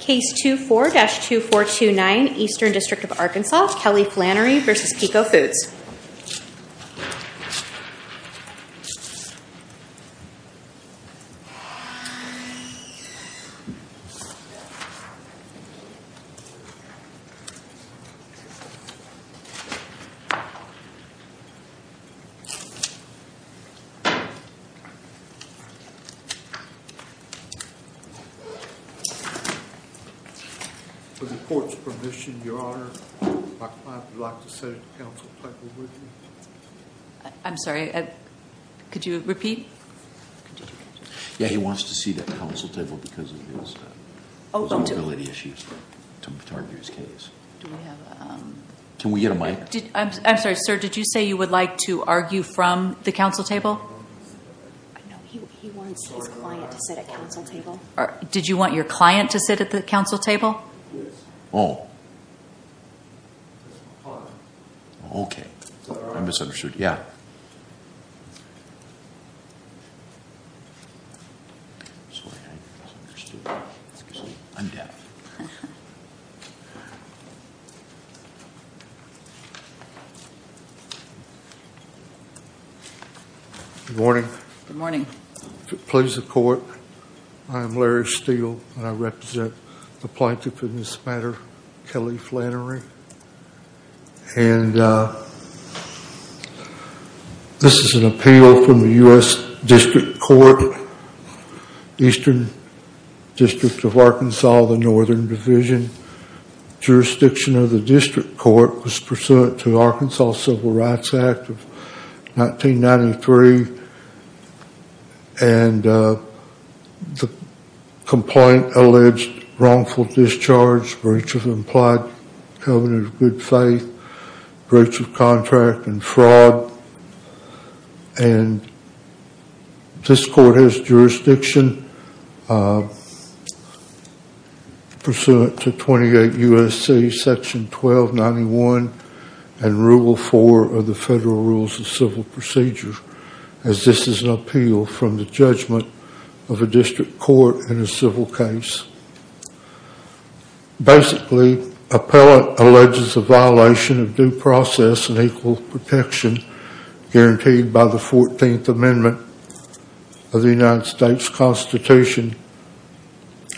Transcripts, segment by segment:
Case 24-2429, Eastern District of Arkansas, Kelly Flannery v. Peco Foods. For the court's permission, Your Honor, my client would like to sit at the counsel table with me. Your Honor, my client would like to sit at the counsel table with me. I represent the plaintiff in this matter, Kelly Flannery. And this is an appeal from the U.S. District Court, Eastern District of Arkansas, the Northern Division. Jurisdiction of the district court was pursuant to Arkansas Civil Rights Act of 1993. And the complaint alleged wrongful discharge, breach of implied covenant of good faith, breach of contract, and fraud. And this court has jurisdiction pursuant to 28 U.S.C. Section 1291 and Rule 4 of the Federal Rules of Civil Procedure. As this is an appeal from the judgment of a district court in a civil case. Basically, appellant alleges a violation of due process and equal protection guaranteed by the 14th Amendment of the United States Constitution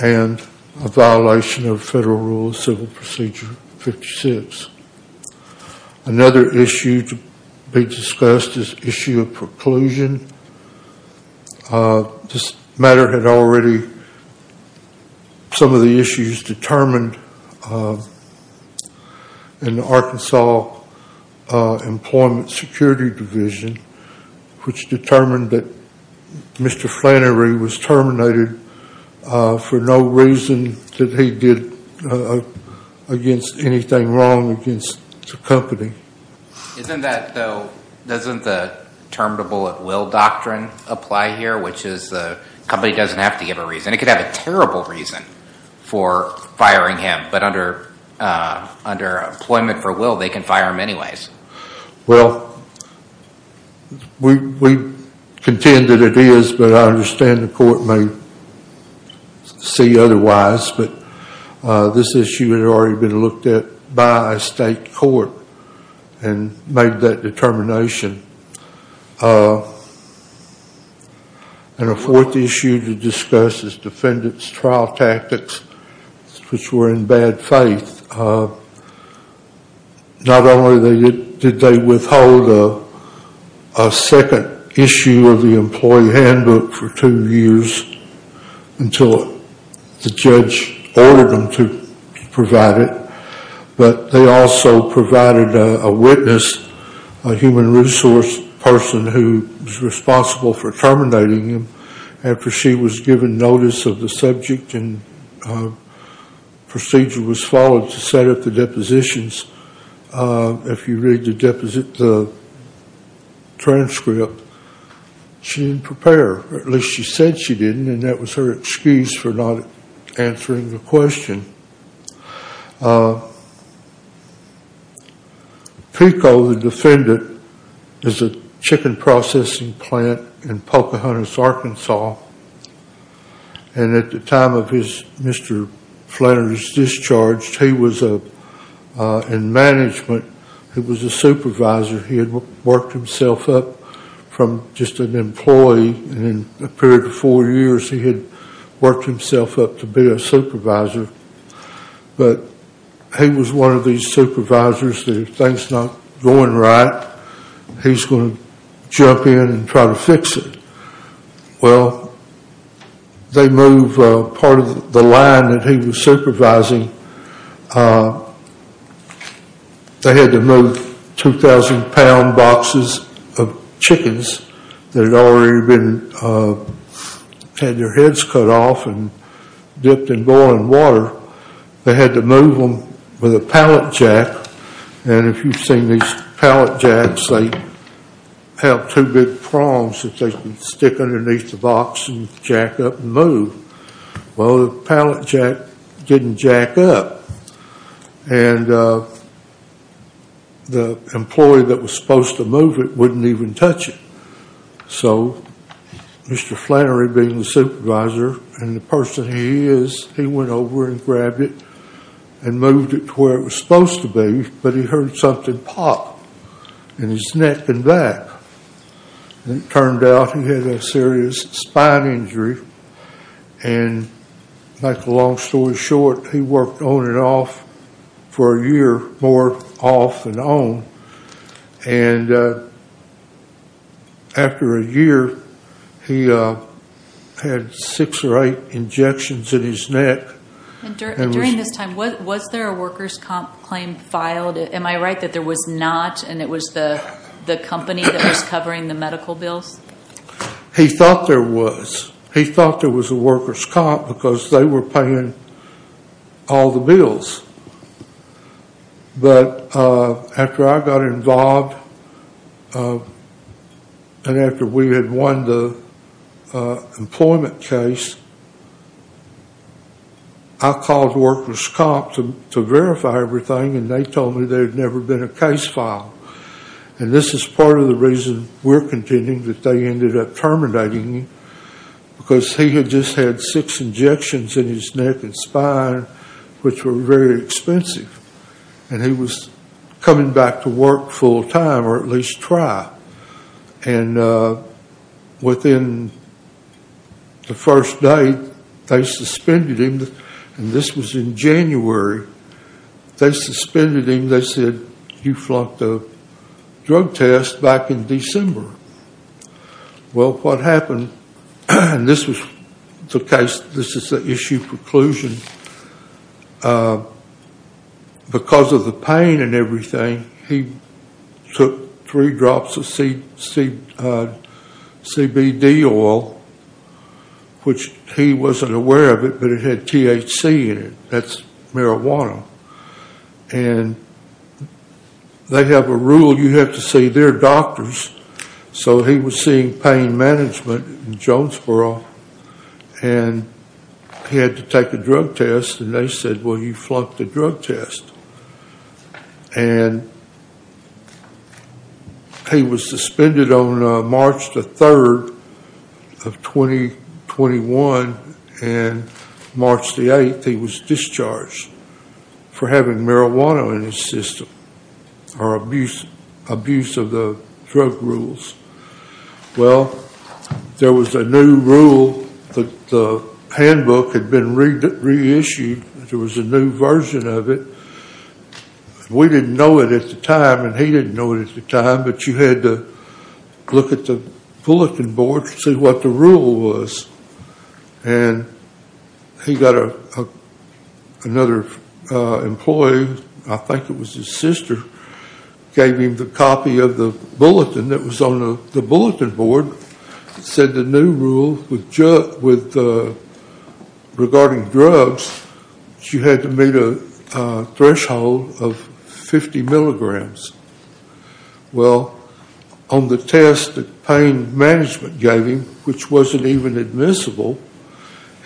and a violation of Federal Rules of Civil Procedure 56. Another issue to be discussed is issue of preclusion. This matter had already some of the issues determined in the Arkansas Employment Security Division, which determined that Mr. Flannery was terminated for no reason that he did against anything wrong against the company. Isn't that though, doesn't the term to bullet will doctrine apply here, which is the company doesn't have to give a reason. It could have a terrible reason for firing him. But under employment for will, they can fire him anyways. Well, we contend that it is, but I understand the court may see otherwise. But this issue had already been looked at by a state court and made that determination. And a fourth issue to discuss is defendant's trial tactics, which were in bad faith. Not only did they withhold a second issue of the employee handbook for two years until the judge ordered them to provide it, but they also provided a witness, a human resource person who was responsible for terminating him after she was given notice of the subject and procedure was followed to set up the depositions. If you read the transcript, she didn't prepare. At least she said she didn't, and that was her excuse for not answering the question. Pico, the defendant, is a chicken processing plant in Pocahontas, Arkansas. And at the time of Mr. Flannery's discharge, he was in management. He was a supervisor. He had worked himself up from just an employee, and in a period of four years he had worked himself up to be a supervisor. But he was one of these supervisors that if things are not going right, he's going to jump in and try to fix it. Well, they moved part of the line that he was supervising, they had to move 2,000 pound boxes of chickens that had already had their heads cut off and dipped in boiling water. They had to move them with a pallet jack, and if you've seen these pallet jacks, they have two big prongs that they can stick underneath the box and jack up and move. Well, the pallet jack didn't jack up, and the employee that was supposed to move it wouldn't even touch it. So Mr. Flannery, being the supervisor and the person he is, he went over and grabbed it and moved it to where it was supposed to be, but he heard something pop in his neck and back. It turned out he had a serious spine injury, and long story short, he worked on and off for a year, more off than on. And after a year, he had six or eight injections in his neck. During this time, was there a workers' comp claim filed? Am I right that there was not, and it was the company that was covering the medical bills? He thought there was. He thought there was a workers' comp because they were paying all the bills. But after I got involved and after we had won the employment case, I called workers' comp to verify everything, and they told me there had never been a case filed. And this is part of the reason we're contending that they ended up terminating him because he had just had six injections in his neck and spine, which were very expensive. And he was coming back to work full time, or at least try. And within the first day, they suspended him, and this was in January. They suspended him. They said, you flunked a drug test back in December. Well, what happened, and this was the case, this is the issue preclusion, because of the pain and everything, he took three drops of CBD oil, which he wasn't aware of it, but it had THC in it. That's marijuana. And they have a rule you have to see their doctors, so he was seeing pain management in Jonesboro, and he had to take a drug test, and they said, well, you flunked the drug test. And he was suspended on March the 3rd of 2021, and March the 8th, he was discharged for having marijuana in his system, or abuse of the drug rules. Well, there was a new rule that the handbook had been reissued. There was a new version of it. We didn't know it at the time, and he didn't know it at the time, but you had to look at the bulletin board to see what the rule was. And he got another employee, I think it was his sister, who gave him the copy of the bulletin that was on the bulletin board. It said the new rule regarding drugs, you had to meet a threshold of 50 milligrams. Well, on the test that pain management gave him, which wasn't even admissible,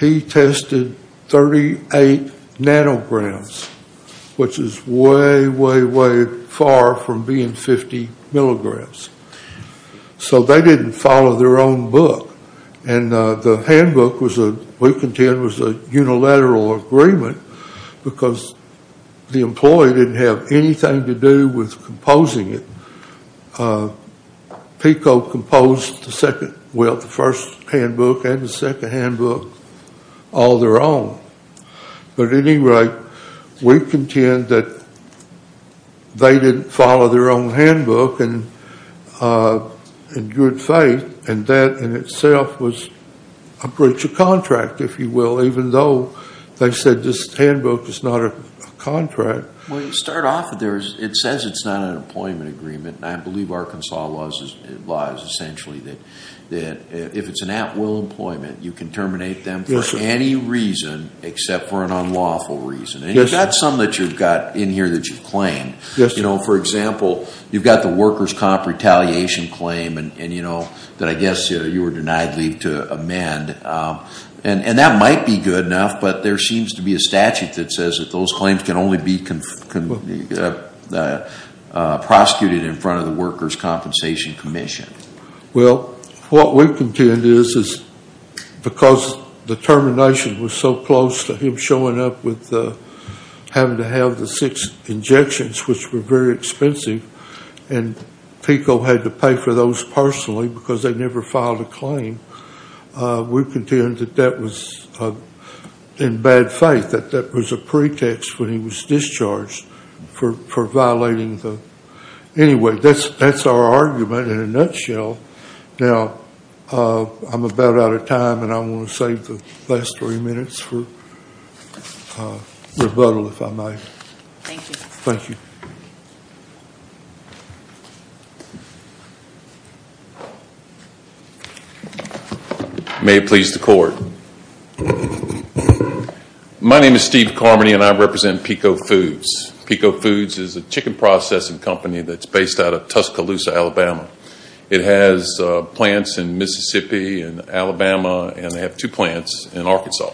he tested 38 nanograms, which is way, way, way far from being 50 milligrams. So they didn't follow their own book. And the handbook, we contend, was a unilateral agreement because the employee didn't have anything to do with composing it. PECO composed the first handbook and the second handbook all their own. But at any rate, we contend that they didn't follow their own handbook in good faith, and that in itself was a breach of contract, if you will, even though they said this handbook is not a contract. Well, to start off with, it says it's not an employment agreement, and I believe Arkansas law is essentially that if it's an at-will employment, you can terminate them for any reason except for an unlawful reason. And you've got some that you've got in here that you've claimed. For example, you've got the workers' comp retaliation claim that I guess you were denied leave to amend. And that might be good enough, but there seems to be a statute that says that those claims can only be prosecuted in front of the workers' compensation commission. Well, what we contend is because the termination was so close to him showing up with having to have the six injections, which were very expensive, and PECO had to pay for those personally because they never filed a claim, we contend that that was in bad faith, that that was a pretext when he was discharged for violating the. Anyway, that's our argument in a nutshell. Now, I'm about out of time, and I want to save the last three minutes for rebuttal, if I may. Thank you. Thank you. May it please the court. My name is Steve Carmody, and I represent PECO Foods. PECO Foods is a chicken processing company that's based out of Tuscaloosa, Alabama. It has plants in Mississippi and Alabama, and they have two plants in Arkansas.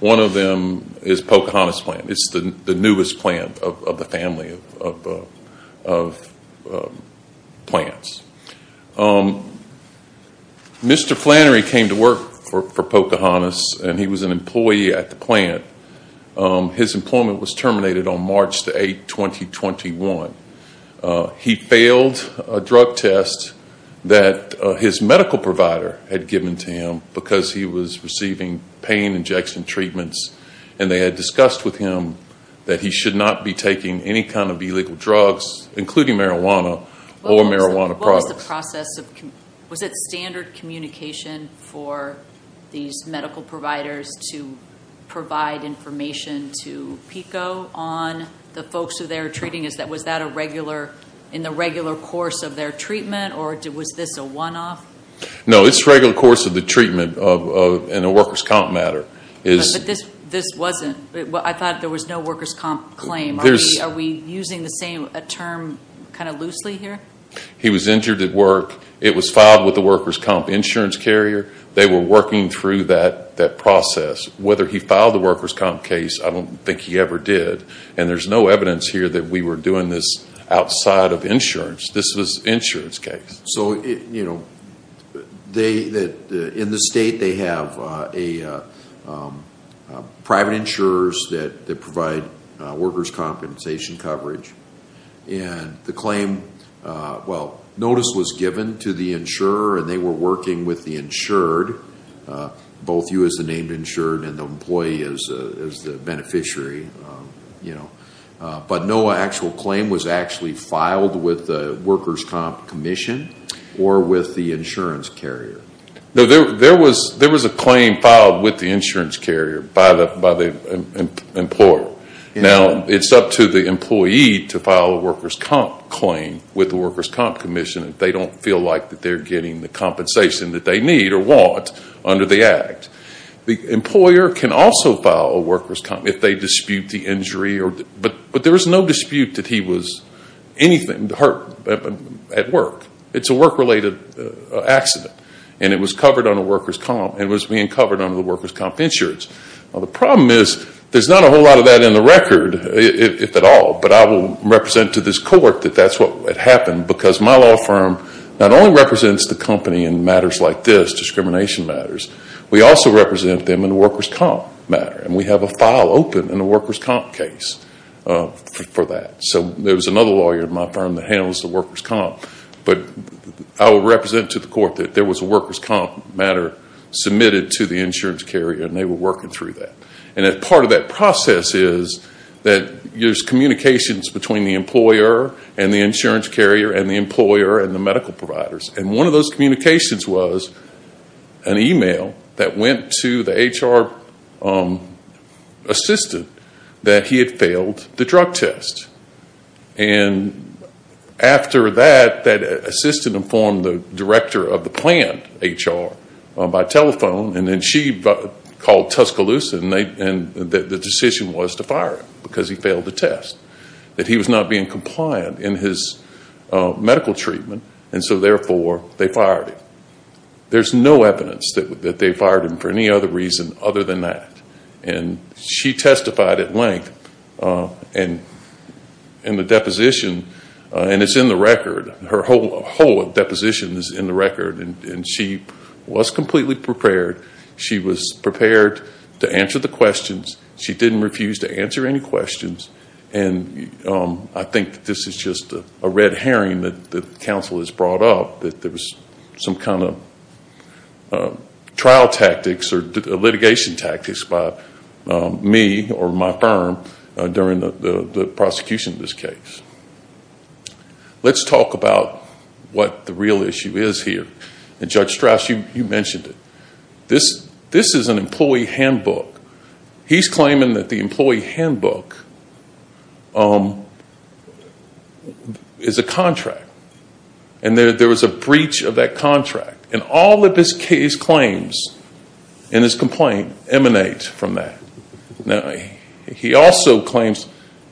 One of them is Pocahontas plant. It's the newest plant of the family of plants. Mr. Flannery came to work for Pocahontas, and he was an employee at the plant. His employment was terminated on March 8, 2021. He failed a drug test that his medical provider had given to him because he was receiving pain injection treatments, and they had discussed with him that he should not be taking any kind of illegal drugs, including marijuana or marijuana products. What was the process? Was it standard communication for these medical providers to provide information to PECO on the folks who they were treating? Was that in the regular course of their treatment, or was this a one-off? No, it's regular course of the treatment in a workers' comp matter. But this wasn't. I thought there was no workers' comp claim. Marty, are we using the same term kind of loosely here? He was injured at work. It was filed with the workers' comp insurance carrier. They were working through that process. Whether he filed the workers' comp case, I don't think he ever did, and there's no evidence here that we were doing this outside of insurance. This was an insurance case. In the state, they have private insurers that provide workers' compensation coverage, and the claim notice was given to the insurer, and they were working with the insured. Both you as the named insured and the employee as the beneficiary. But no actual claim was actually filed with the workers' comp commission or with the insurance carrier. There was a claim filed with the insurance carrier by the employer. Now, it's up to the employee to file a workers' comp claim with the workers' comp commission if they don't feel like they're getting the compensation that they need or want under the act. The employer can also file a workers' comp if they dispute the injury, but there was no dispute that he was hurt at work. It's a work-related accident, and it was being covered under the workers' comp insurance. Now, the problem is there's not a whole lot of that in the record, if at all, but I will represent to this court that that's what happened because my law firm not only represents the company in matters like this, discrimination matters, we also represent them in the workers' comp matter, and we have a file open in the workers' comp case for that. So there was another lawyer in my firm that handles the workers' comp, but I will represent to the court that there was a workers' comp matter submitted to the insurance carrier, and they were working through that. And part of that process is that there's communications between the employer and the insurance carrier and the employer and the medical providers, and one of those communications was an email that went to the HR assistant that he had failed the drug test. And after that, that assistant informed the director of the plant, HR, by telephone, and then she called Tuscaloosa, and the decision was to fire him because he failed the test, that he was not being compliant in his medical treatment, and so therefore they fired him. There's no evidence that they fired him for any other reason other than that, and she testified at length in the deposition, and it's in the record. Her whole deposition is in the record, and she was completely prepared. She was prepared to answer the questions. She didn't refuse to answer any questions, and I think this is just a red herring that the counsel has brought up, that there was some kind of trial tactics or litigation tactics by me or my firm during the prosecution of this case. Let's talk about what the real issue is here, and Judge Strauss, you mentioned it. This is an employee handbook. He's claiming that the employee handbook is a contract, and that there was a breach of that contract, and all of his claims in his complaint emanate from that. Now, he also claims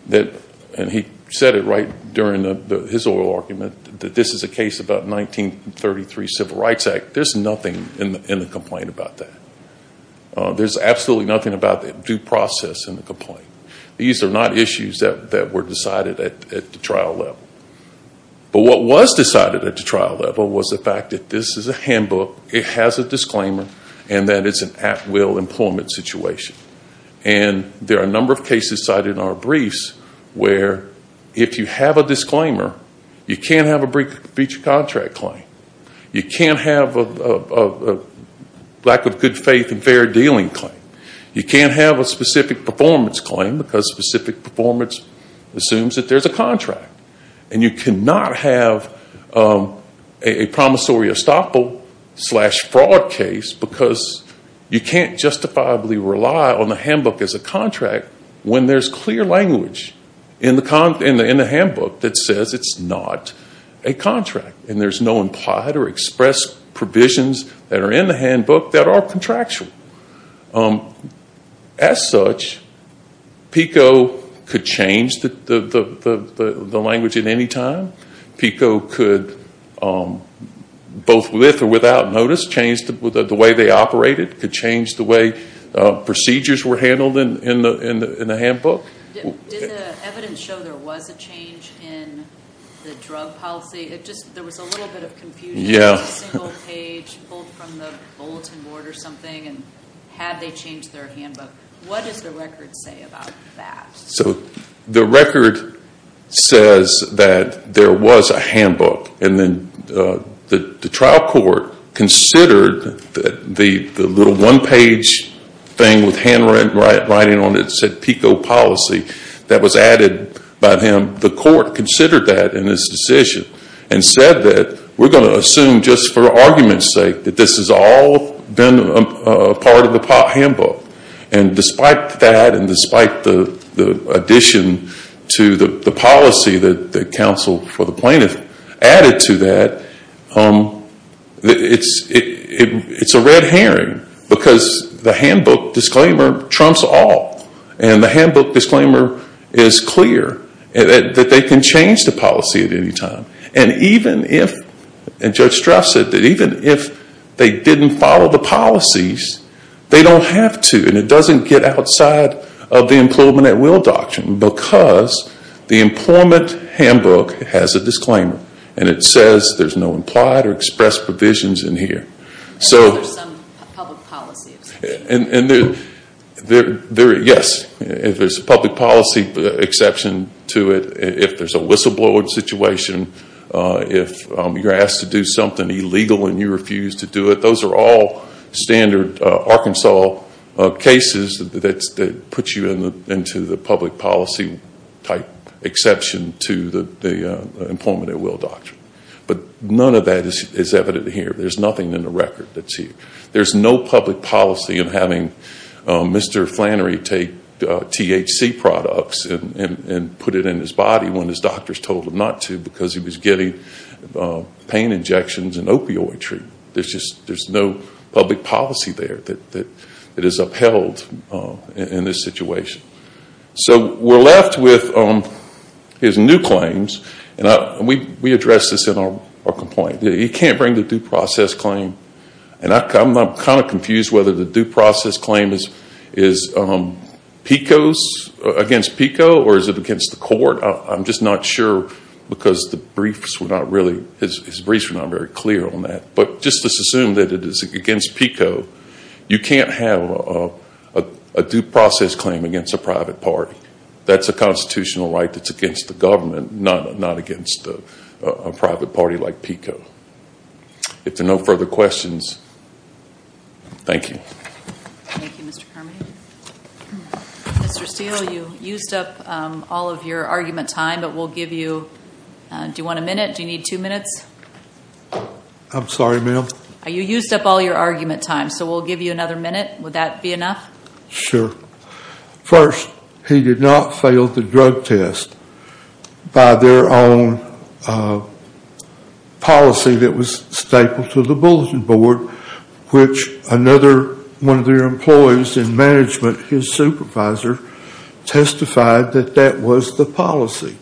that, and he said it right during his oral argument, that this is a case about 1933 Civil Rights Act. There's nothing in the complaint about that. There's absolutely nothing about the due process in the complaint. These are not issues that were decided at the trial level. But what was decided at the trial level was the fact that this is a handbook, it has a disclaimer, and that it's an at-will employment situation. And there are a number of cases cited in our briefs where, if you have a disclaimer, you can't have a breach of contract claim. You can't have a lack of good faith and fair dealing claim. You can't have a specific performance claim, because specific performance assumes that there's a contract. And you cannot have a promissory estoppel slash fraud case, because you can't justifiably rely on the handbook as a contract when there's clear language in the handbook that says it's not a contract, and there's no implied or expressed provisions that are in the handbook that are contractual. As such, PICO could change the language at any time. PICO could, both with or without notice, change the way they operated. It could change the way procedures were handled in the handbook. Did the evidence show there was a change in the drug policy? There was a little bit of confusion. Was it a single page pulled from the bulletin board or something, and had they changed their handbook? What does the record say about that? The record says that there was a handbook, and then the trial court considered the little one-page thing with handwriting on it that said PICO policy that was added by him. The court considered that in its decision and said that we're going to assume just for argument's sake that this has all been a part of the handbook. And despite that and despite the addition to the policy that the counsel for the plaintiff added to that, it's a red herring because the handbook disclaimer trumps all. And the handbook disclaimer is clear that they can change the policy at any time. And Judge Straff said that even if they didn't follow the policies, they don't have to, and it doesn't get outside of the employment at will doctrine because the employment handbook has a disclaimer. And it says there's no implied or expressed provisions in here. And there's some public policy exceptions. Yes, if there's a public policy exception to it, if there's a whistleblower situation, if you're asked to do something illegal and you refuse to do it, those are all standard Arkansas cases that put you into the public policy type exception to the employment at will doctrine. But none of that is evident here. There's nothing in the record that's here. There's no public policy in having Mr. Flannery take THC products and put it in his body when his doctors told him not to because he was getting pain injections and opioid treatment. There's no public policy there that is upheld in this situation. So we're left with his new claims. And we addressed this in our complaint. He can't bring the due process claim. And I'm kind of confused whether the due process claim is PICO's against PICO or is it against the court. I'm just not sure because his briefs were not very clear on that. But just assume that it is against PICO. You can't have a due process claim against a private party. That's a constitutional right that's against the government, not against a private party like PICO. If there are no further questions, thank you. Thank you, Mr. Carmody. Mr. Steele, you used up all of your argument time. But we'll give you, do you want a minute? Do you need two minutes? I'm sorry, ma'am. You used up all your argument time, so we'll give you another minute. Would that be enough? Sure. First, he did not fail the drug test by their own policy that was stapled to the Bulletin Board, which another one of their employees in management, his supervisor, testified that that was the policy.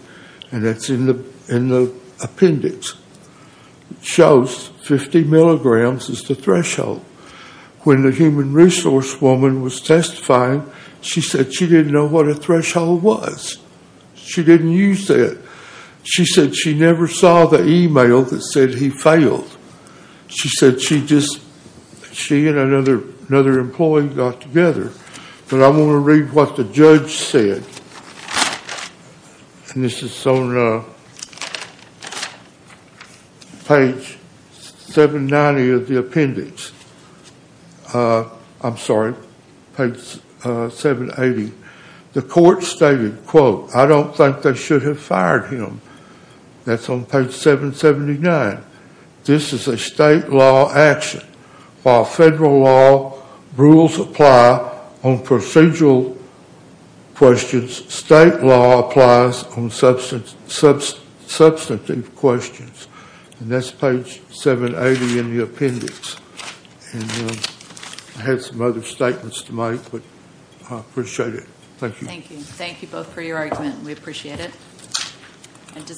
And that's in the appendix. It shows 50 milligrams is the threshold. When the human resource woman was testifying, she said she didn't know what a threshold was. She didn't use that. She said she never saw the email that said he failed. She said she just, she and another employee got together. But I want to read what the judge said. And this is on page 790 of the appendix. I'm sorry, page 780. The court stated, quote, I don't think they should have fired him. That's on page 779. This is a state law action. While federal law rules apply on procedural questions, state law applies on substantive questions. And that's page 780 in the appendix. And I had some other statements to make, but I appreciate it. Thank you. Thank you. Thank you both for your argument. We appreciate it.